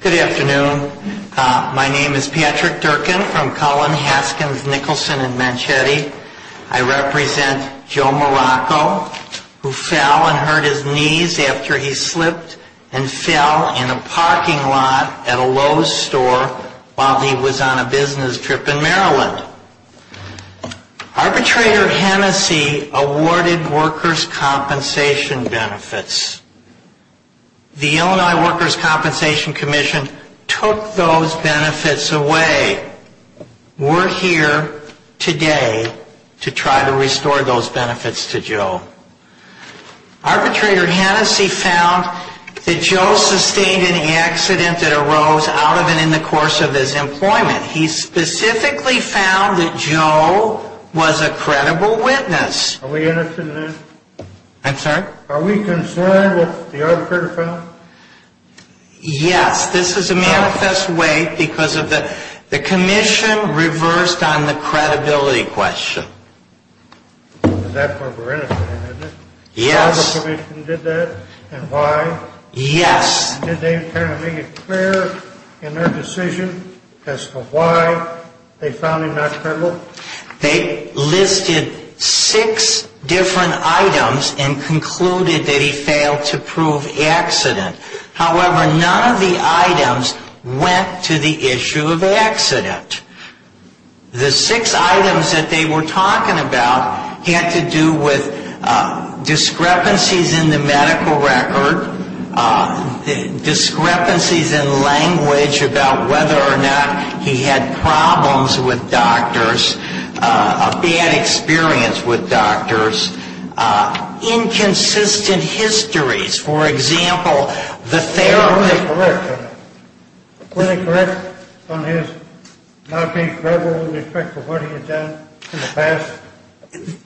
Good afternoon. My name is Patrick Durkin from Collin, Haskins, Nicholson, and Manchetti. I represent Joe Morocco, who fell and hurt his knees after he slipped and fell in a parking lot at a Lowe's store while he was on a business trip in Maryland. Arbitrator Hennessey awarded workers' compensation benefits. The Illinois Workers' Compensation Commission took those benefits away. We're here today to try to restore those benefits to Joe. Arbitrator Hennessey found that Joe sustained any accident that arose out of and in the course of his employment. He specifically found that Joe was a credible witness. Are we interested in that? I'm sorry? Are we concerned with the arbitrator found? Yes, this is a manifest way because of the commission reversed on the credibility question. That's where we're interested in, isn't it? Yes. The commission did that and why? Yes. Did they try to make it clear in their decision as to why they found him not credible? They listed six different items and concluded that he failed to prove accident. However, none of the items went to the issue of accident. The six items that they were talking about had to do with discrepancies in the medical record, discrepancies in language about whether or not he had problems with doctors. A bad experience with doctors. Inconsistent histories. For example, the therapy. Were they correct on his not being credible in respect to what he had done in the past?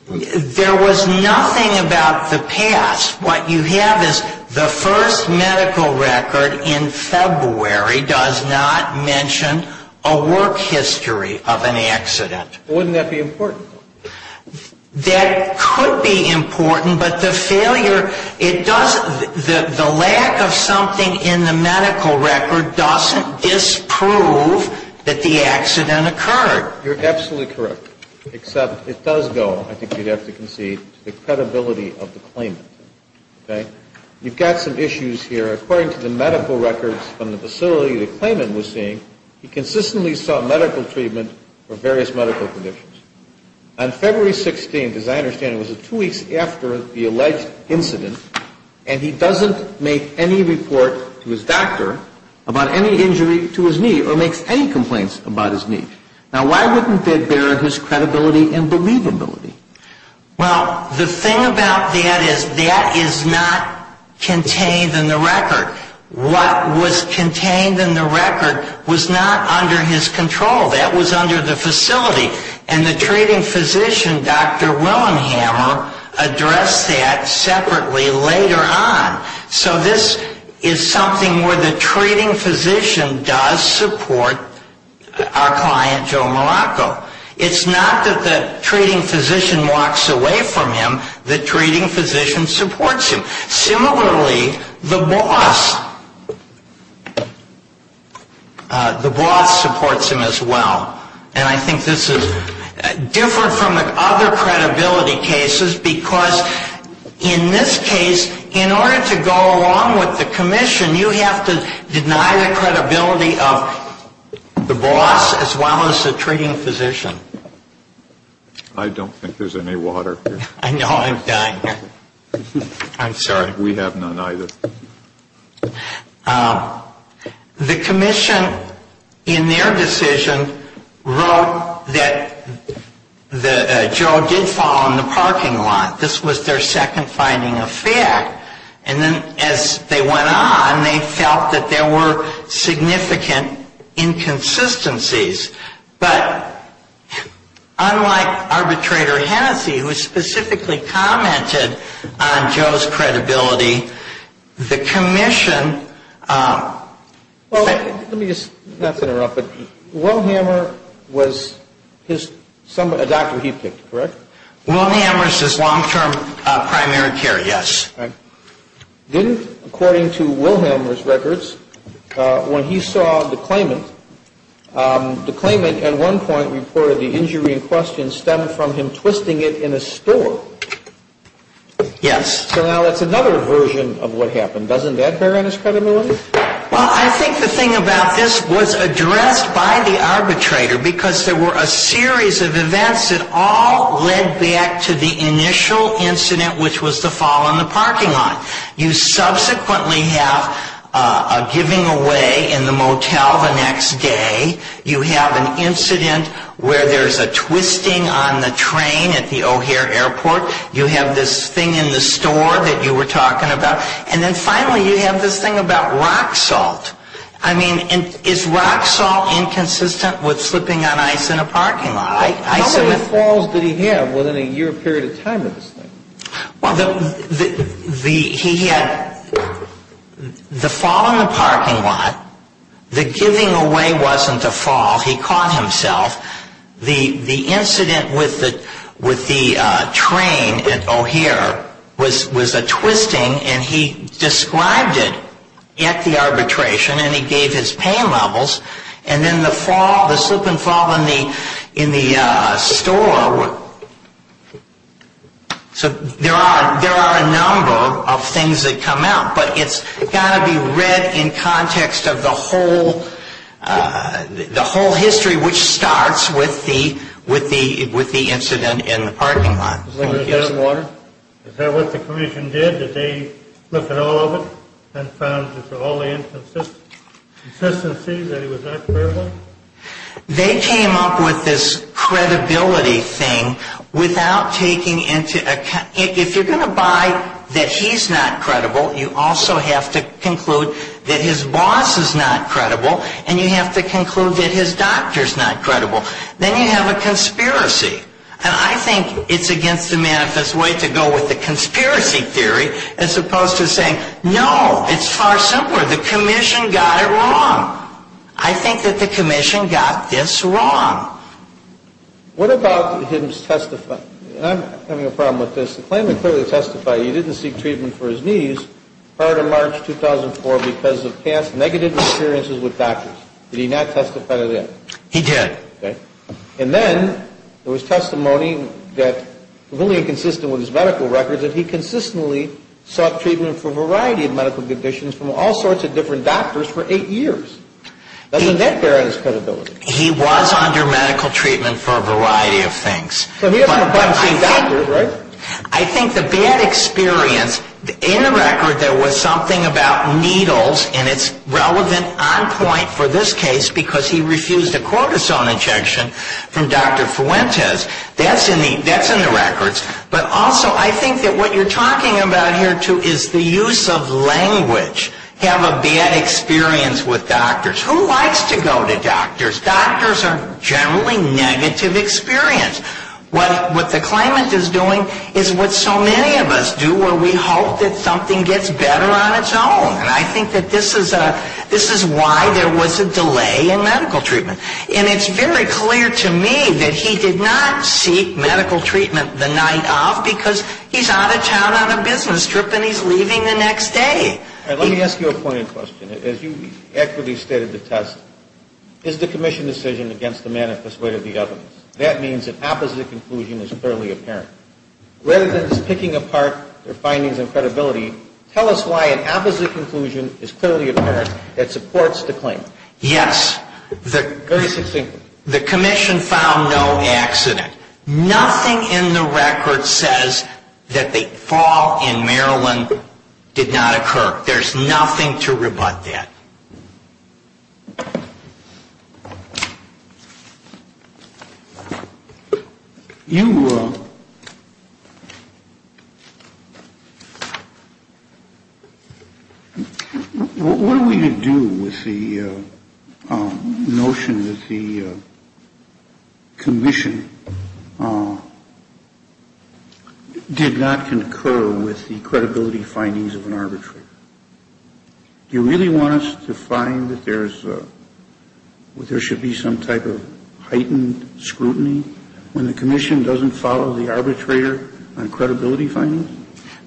There was nothing about the past. What you have is the first medical record in February does not mention a work history of an accident. Wouldn't that be important? That could be important, but the failure, the lack of something in the medical record doesn't disprove that the accident occurred. You're absolutely correct, except it does go, I think you'd have to concede, to the credibility of the claimant. You've got some issues here. According to the medical records from the facility the claimant was seeing, he consistently saw medical treatment for various medical conditions. On February 16th, as I understand it, it was two weeks after the alleged incident, and he doesn't make any report to his doctor about any injury to his knee or makes any complaints about his knee. Now, why wouldn't that bear his credibility and believability? Well, the thing about that is that is not contained in the record. What was contained in the record was not under his control. That was under the facility. And the treating physician, Dr. Willenhammer, addressed that separately later on. So this is something where the treating physician does support our client, Joe Malacco. It's not that the treating physician walks away from him, the treating physician supports him. Similarly, the boss, the boss supports him as well. And I think this is different from the other credibility cases, because in this case, in order to go along with the commission, you have to deny the credibility of the boss as well as the treating physician. I don't think there's any water here. I know. I'm dying here. I'm sorry. We have none either. The commission, in their decision, wrote that Joe did fall in the parking lot. This was their second finding of fact. And then as they went on, they felt that there were significant inconsistencies. But unlike arbitrator Hennessey, who specifically commented on Joe's credibility, the commission ‑‑ Well, let me just, not to interrupt, but Willenhammer was his, a doctor he picked, correct? Willenhammer is his long-term primary care, yes. Then, according to Willenhammer's records, when he saw the claimant, the claimant at one point reported the injury in question stemmed from him twisting it in a store. Yes. So now that's another version of what happened. Doesn't that bear on his credibility? Well, I think the thing about this was addressed by the arbitrator because there were a series of events that all led back to the initial incident, which was the fall in the parking lot. You subsequently have a giving away in the motel the next day. You have an incident where there's a twisting on the train at the O'Hare Airport. You have this thing in the store that you were talking about. And then finally you have this thing about rock salt. I mean, is rock salt inconsistent with slipping on ice in a parking lot? How many falls did he have within a year period of time of this thing? Well, he had the fall in the parking lot. The giving away wasn't the fall. He caught himself. The incident with the train at O'Hare was a twisting and he described it at the arbitration and he gave his pain levels. And then the fall, the slip and fall in the store, so there are a number of things that come out. But it's got to be read in context of the whole history, which starts with the incident in the parking lot. Is that what the commission did? Did they look at all of it and found that for all the inconsistencies that it was not credible? They came up with this credibility thing without taking into account. If you're going to buy that he's not credible, you also have to conclude that his boss is not credible. And you have to conclude that his doctor's not credible. Then you have a conspiracy. And I think it's against the manifest way to go with the conspiracy theory as opposed to saying, no, it's far simpler. The commission got it wrong. I think that the commission got this wrong. What about his testifying? I'm having a problem with this. The claimant clearly testified he didn't seek treatment for his knees prior to March 2004 because of past negative experiences with doctors. Did he not testify to that? He did. And then there was testimony that was really inconsistent with his medical records that he consistently sought treatment for a variety of medical conditions from all sorts of different doctors for eight years. Doesn't that bear on his credibility? He was under medical treatment for a variety of things. But I think the bad experience, in the record there was something about needles, and it's relevant on point for this case because he refused a cortisone injection from Dr. Fuentes. That's in the records. But also I think that what you're talking about here, too, is the use of language. Have a bad experience with doctors. Who likes to go to doctors? Doctors are generally negative experience. What the claimant is doing is what so many of us do where we hope that something gets better on its own. And I think that this is why there was a delay in medical treatment. And it's very clear to me that he did not seek medical treatment the night of because he's out of town on a business trip and he's leaving the next day. Let me ask you a pointed question. As you accurately stated the test, is the commission decision against the manifest way to the evidence? That means an opposite conclusion is clearly apparent. Rather than just picking apart their findings and credibility, tell us why an opposite conclusion is clearly apparent that supports the claim. Yes. Very succinctly. The commission found no accident. Nothing in the record says that the fall in Maryland did not occur. There's nothing to rebut that. You. What are we to do with the notion that the commission did not concur with the credibility findings of an arbitrary? Do you really want us to find that there should be some type of heightened scrutiny when the commission doesn't follow the arbitrator on credibility findings?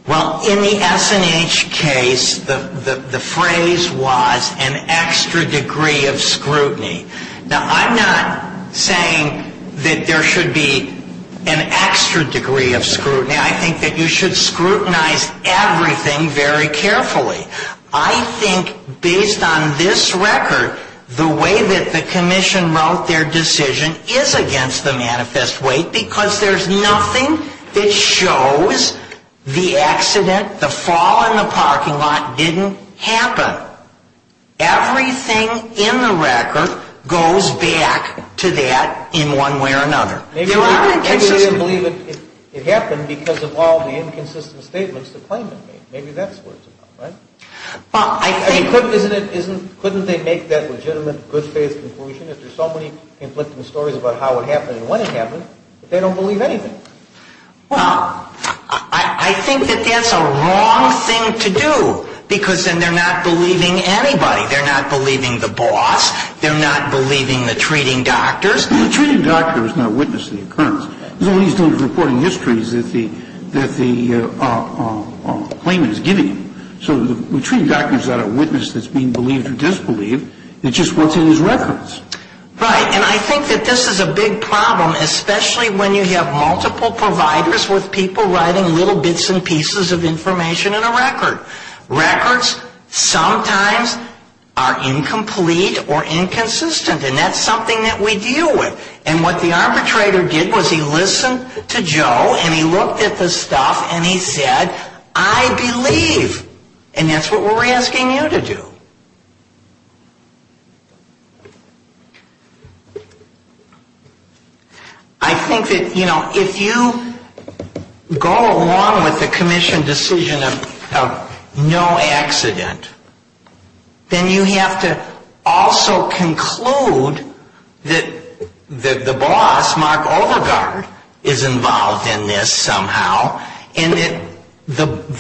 Well, in the SNH case, the phrase was an extra degree of scrutiny. Now, I'm not saying that there should be an extra degree of scrutiny. I think that you should scrutinize everything very carefully. I think based on this record, the way that the commission wrote their decision is against the manifest way because there's nothing that shows the accident, the fall in the parking lot didn't happen. Everything in the record goes back to that in one way or another. Maybe they didn't believe it happened because of all the inconsistent statements the claimant made. Maybe that's what it's about, right? Couldn't they make that legitimate good faith conclusion if there's so many conflicting stories about how it happened and when it happened that they don't believe anything? Well, I think that that's a wrong thing to do because then they're not believing anybody. They're not believing the boss. They're not believing the treating doctors. The treating doctor is not a witness to the occurrence. All he's doing is reporting histories that the claimant is giving him. So the treating doctor is not a witness that's being believed or disbelieved. It's just what's in his records. Right, and I think that this is a big problem, especially when you have multiple providers with people writing little bits and pieces of information in a record. Records sometimes are incomplete or inconsistent, and that's something that we deal with. And what the arbitrator did was he listened to Joe and he looked at the stuff and he said, I believe. And that's what we're asking you to do. I think that, you know, if you go along with the commission decision of no accident, then you have to also conclude that the boss, Mark Overgaard, is involved in this somehow, and that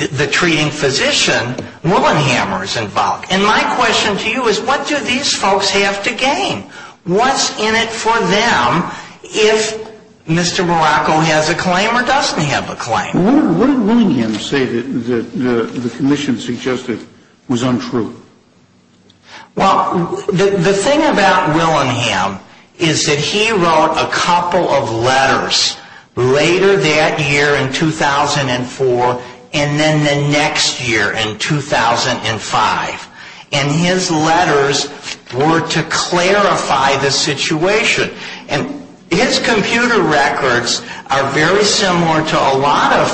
the treating physician, Willinghamer, is involved. And my question to you is what do these folks have to gain? What's in it for them if Mr. Morocco has a claim or doesn't have a claim? What did Willingham say that the commission suggested was untrue? Well, the thing about Willingham is that he wrote a couple of letters later that year in 2004 and then the next year in 2005. And his letters were to clarify the situation. And his computer records are very similar to a lot of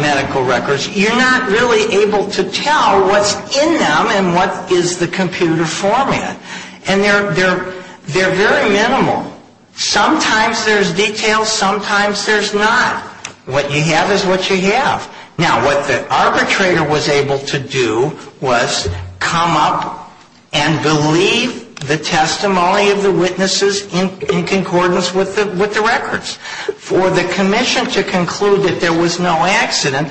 medical records. You're not really able to tell what's in them and what is the computer format. And they're very minimal. Sometimes there's detail, sometimes there's not. What you have is what you have. Now, what the arbitrator was able to do was come up and believe the testimony of the witnesses in concordance with the records. For the commission to conclude that there was no accident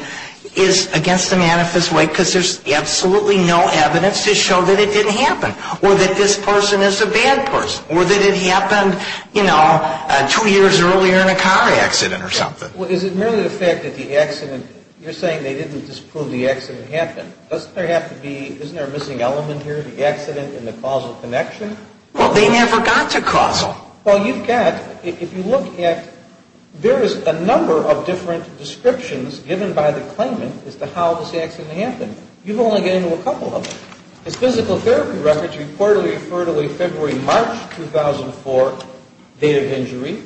is against the manifest way because there's absolutely no evidence to show that it didn't happen. Or that this person is a bad person or that it happened, you know, two years earlier in a car accident or something. Well, is it merely the fact that the accident, you're saying they didn't just prove the accident happened. Doesn't there have to be, isn't there a missing element here, the accident and the causal connection? Well, they never got to causal. Well, you've got, if you look at, there is a number of different descriptions given by the claimant as to how this accident happened. You've only gotten to a couple of them. His physical therapy records reportedly refer to a February, March 2004 date of injury.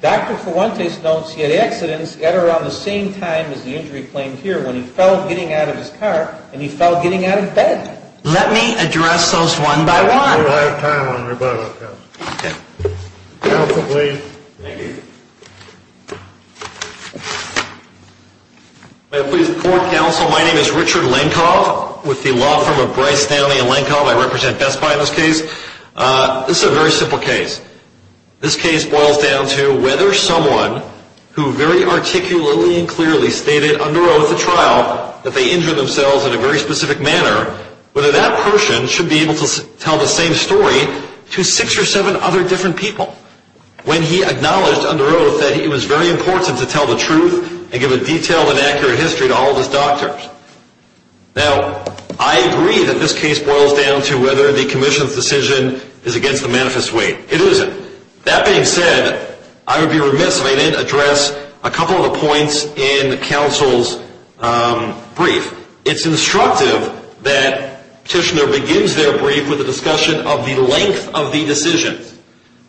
Dr. Fuentes notes he had accidents at around the same time as the injury claimed here when he fell getting out of his car and he fell getting out of bed. Let me address those one by one. Counsel, please. My name is Richard Lankoff with the law firm of Bryce Stanley and Lankoff. I represent Best Buy in this case. This is a very simple case. This case boils down to whether someone who very articulately and clearly stated under oath at trial that they injured themselves in a very specific manner, whether that person should be able to tell the same story to six or seven other different people when he acknowledged under oath that it was very important to tell the truth and give a detailed and accurate history to all of his doctors. Now, I agree that this case boils down to whether the commission's decision is against the manifest weight. It isn't. That being said, I would be remiss if I didn't address a couple of the points in counsel's brief. It's instructive that petitioner begins their brief with a discussion of the length of the decision.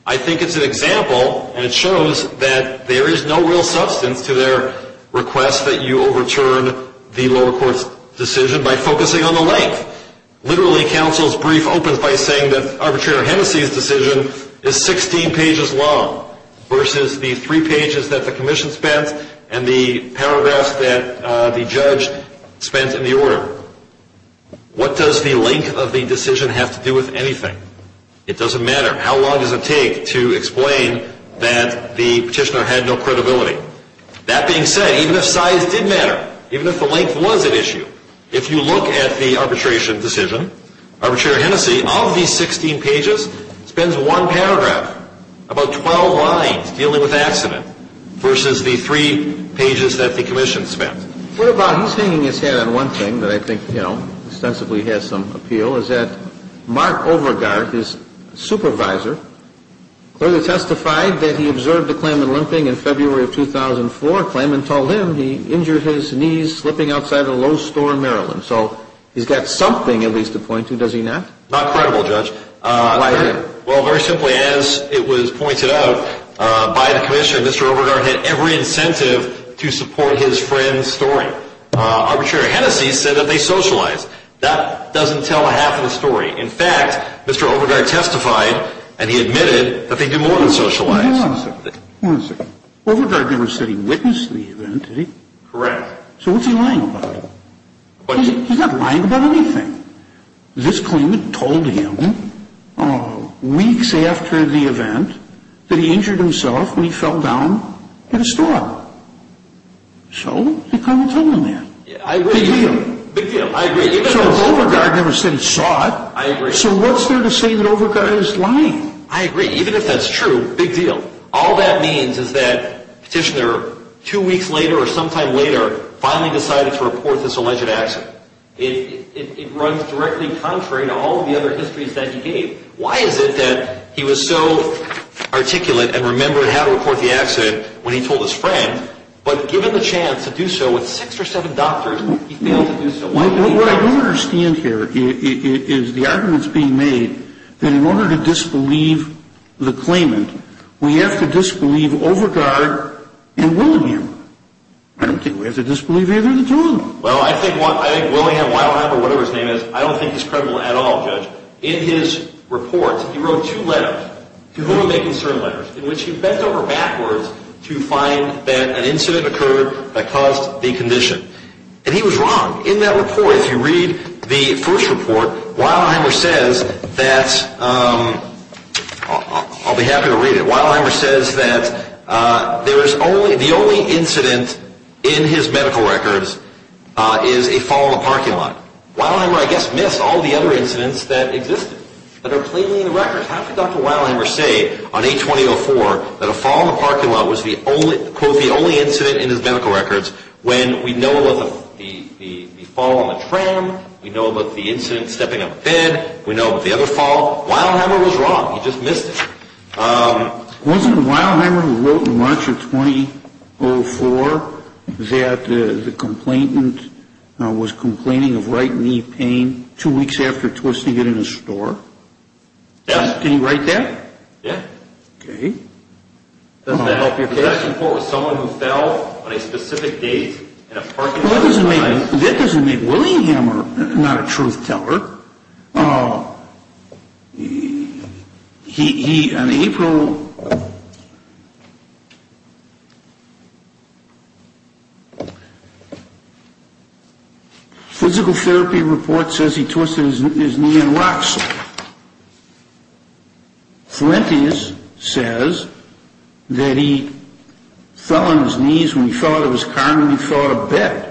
I think it's an example and it shows that there is no real substance to their request that you overturn the lower court's decision by focusing on the length. Literally, counsel's brief opens by saying that arbitrator Hennessey's decision is 16 pages long versus the three pages that the commission spent and the paragraphs that the judge spent in the order. What does the length of the decision have to do with anything? It doesn't matter. How long does it take to explain that the petitioner had no credibility? That being said, even if size did matter, even if the length was at issue, if you look at the arbitration decision, arbitrator Hennessey, of these 16 pages, spends one paragraph, about 12 lines, dealing with accident versus the three pages that the commission spent. What about, he's hanging his head on one thing that I think, you know, ostensibly has some appeal, is that Mark Overgaard, his supervisor, clearly testified that he observed a Klaman limping in February of 2004. Klaman told him he injured his knees slipping outside a Lowe's store in Maryland. So, he's got something at least to point to, does he not? Not credible, Judge. Well, very simply, as it was pointed out by the commissioner, Mr. Overgaard had every incentive to support his friend's story. Arbitrator Hennessey said that they socialized. That doesn't tell half of the story. In fact, Mr. Overgaard testified, and he admitted that they did more than socialize. Hold on a second. Overgaard never said he witnessed the event, did he? Correct. So, what's he lying about? He's not lying about anything. This Klaman told him, weeks after the event, that he injured himself when he fell down in a store. So, he couldn't have told him that. Big deal. So, if Overgaard never said he saw it, so what's there to say that Overgaard is lying? I agree. Even if that's true, big deal. All that means is that Petitioner, two weeks later or sometime later, finally decided to report this alleged accident. It runs directly contrary to all of the other histories that he gave. Why is it that he was so articulate and remembered how to report the accident when he told his friend, but given the chance to do so with six or seven doctors, he failed to do so? What I don't understand here is the arguments being made that in order to disbelieve the Klaman, we have to disbelieve Overgaard and Willingham. I don't think we have to disbelieve either of the two of them. Well, I think Willingham, Wildenheimer, whatever his name is, I don't think he's credible at all, Judge. In his reports, he wrote two letters, to whom he may concern letters, in which he bent over backwards to find that an incident occurred that caused the condition. And he was wrong. In that report, if you read the first report, Wildenheimer says that, I'll be happy to read it, Wildenheimer says that the only incident in his medical records is a fall in a parking lot. Wildenheimer, I guess, missed all the other incidents that existed, that are clearly in the records. How could Dr. Wildenheimer say on 820.04 that a fall in a parking lot was the only incident in his medical records when we know about the fall on the tram, we know about the incident stepping on a bed, we know about the other fall. Wildenheimer was wrong. He just missed it. Wasn't Wildenheimer the one who wrote in March of 2004 that the complainant was complaining of right knee pain two weeks after twisting it in a store? Yes. Can you write that? Yes. Does that help your case? That doesn't make Wildenheimer not a truth teller. On April... Physical therapy report says he twisted his knee and he fell on his knees when he fell out of his car and he fell out of bed.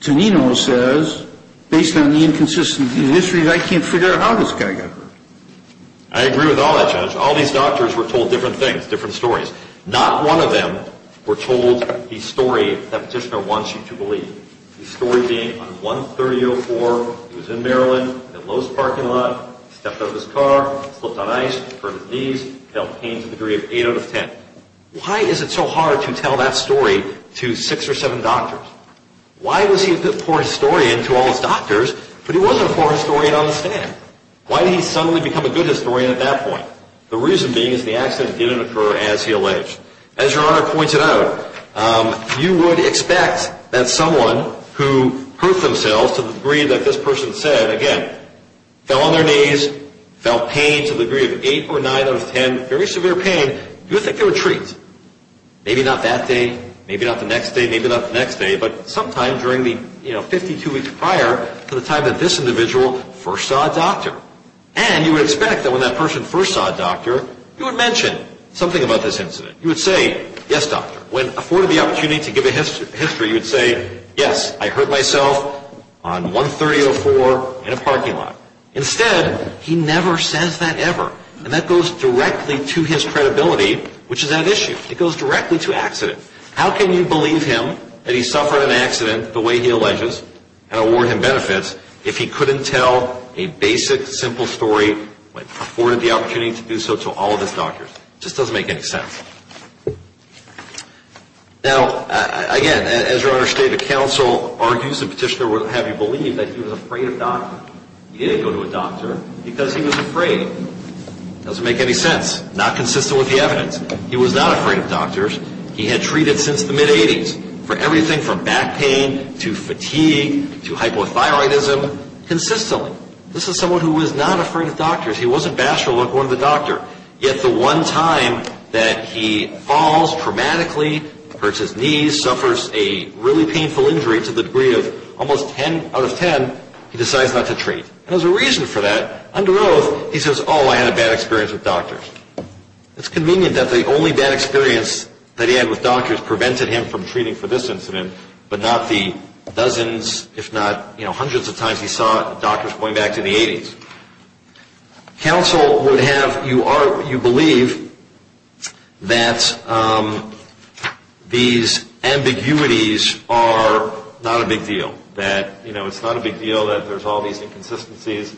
Tonino says, based on the inconsistency of the history, I can't figure out how this guy got hurt. I agree with all that, Judge. All these doctors were told different things, different stories. Not one of them were told the story that Petitioner wants you to believe. The story being on 130.04, he was in Maryland, in Lowe's parking lot, stepped out of his car, slipped on ice, hurt his knees, felt pain to the degree of 8 out of 10. Why is it so hard to tell that story to six or seven doctors? Why was he a poor historian to all his doctors, but he wasn't a poor historian on the stand? Why did he suddenly become a good historian at that point? The reason being is the accident didn't occur as he alleged. As Your Honor pointed out, you would expect that someone who hurt themselves to the degree that this person said, again, fell on their knees, felt pain to the degree of 8 or 9 out of 10, very severe pain, you would think they were treats. Maybe not that day, maybe not the next day, maybe not the next day, but sometime during the 52 weeks prior to the time that this individual first saw a doctor. And you would expect that when that person first saw a doctor, you would mention something about this incident. You would say, yes, doctor. When afforded the opportunity to give a history, you would say, yes, I hurt myself on 130.04 in a parking lot. Instead, he never says that ever, and that goes directly to his credibility, which is at issue. It goes directly to accident. How can you believe him that he suffered an accident the way he alleges and award him benefits if he couldn't tell a basic, simple story, when afforded the opportunity to do so to all of his doctors? It just doesn't make any sense. Now, again, as your Honor, State of Counsel argues, the petitioner would have you believe that he was afraid of doctors. He didn't go to a doctor because he was afraid. It doesn't make any sense. Not consistent with the evidence. He was not afraid of doctors. He had treated since the mid-80s for everything from back pain to fatigue to hypothyroidism consistently. This is someone who was not afraid of doctors. He wasn't bashful about going to the doctor. Yet the one time that he falls traumatically, hurts his knees, suffers a really painful injury to the degree of almost 10 out of 10, he decides not to treat. And there's a reason for that. Under oath, he says, oh, I had a bad experience with doctors. It's convenient that the only bad experience that he had with doctors prevented him from treating for this incident, but not the dozens, if not hundreds of times he saw doctors going back to the 80s. Counsel would have you believe that these ambiguities are not a big deal. That it's not a big deal that there's all these inconsistencies.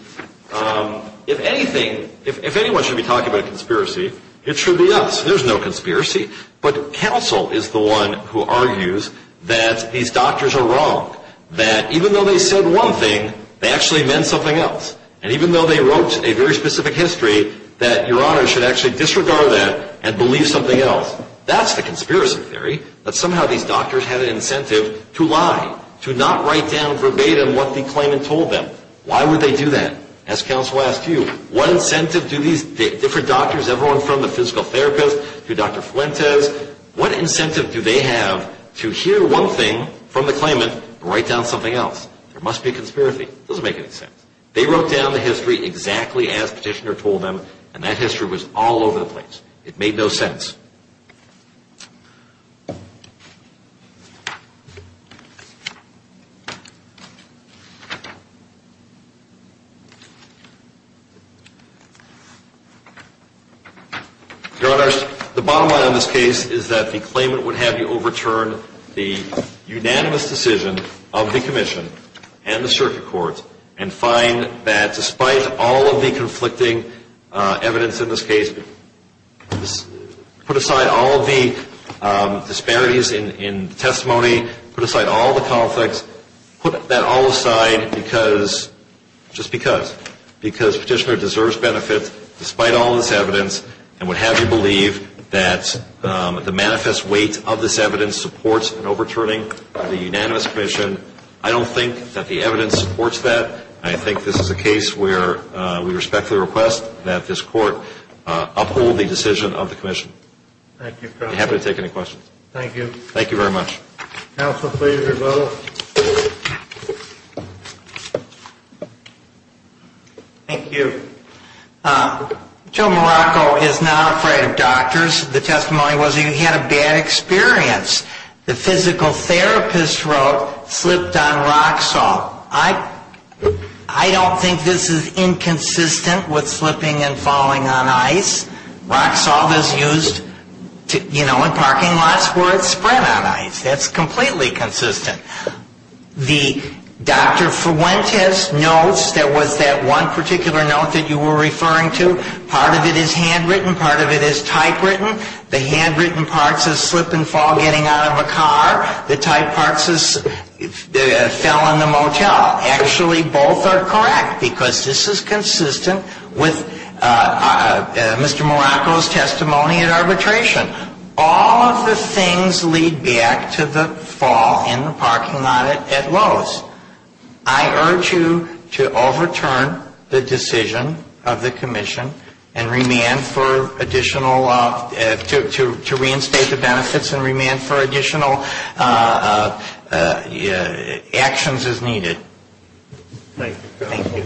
If anyone should be talking about a conspiracy, it should be us. There's no conspiracy. But counsel is the one who argues that these doctors are wrong. That even though they said one thing, they actually meant something else. And even though they wrote a very specific history, that your honor should actually disregard that and believe something else. That's the conspiracy theory. That somehow these doctors had an incentive to lie. To not write down verbatim what the claimant told them. Why would they do that? As counsel asked you, what incentive do these different doctors, everyone from the physical therapist to Dr. Fuentes, what incentive do they have to hear one thing from the claimant and write down something else? There must be a conspiracy. It doesn't make any sense. They wrote down the history exactly as the petitioner told them, and that history was all over the place. It made no sense. Your honors, the bottom line on this case is that the claimant would have you overturn the unanimous decision of the commission and the circuit court and find that despite all of the conflicting evidence in this case, put aside all of the disparities in testimony, put aside all of the conflicts, put that all aside because, just because. Because petitioner deserves benefit despite all of this evidence and would have you believe that the manifest weight of this evidence supports an overturning of the unanimous commission. I don't think that the evidence supports that. I think this is a case where we respectfully request that this court uphold the decision of the commission. Thank you, counsel. I'd be happy to take any questions. Thank you. Joe Morocco is not afraid of doctors. The testimony was he had a bad experience. The physical therapist wrote, slipped on rock salt. I don't think this is inconsistent with slipping and falling on ice. Rock salt is used, you know, in parking lots where it's spread on ice. That's completely consistent. The Dr. Fuentes notes, there was that one particular note that you were referring to. Part of it is handwritten, part of it is typewritten. The handwritten part says slip and fall getting out of a car. The type part says fell in the motel. Actually, both are correct because this is consistent with Mr. Morocco's testimony at arbitration. All of the things lead back to the fall in the parking lot at Lowe's. I urge you to overturn the decision of the commission and remand for additional, to reinstate the benefits and remand for additional actions as needed. Thank you.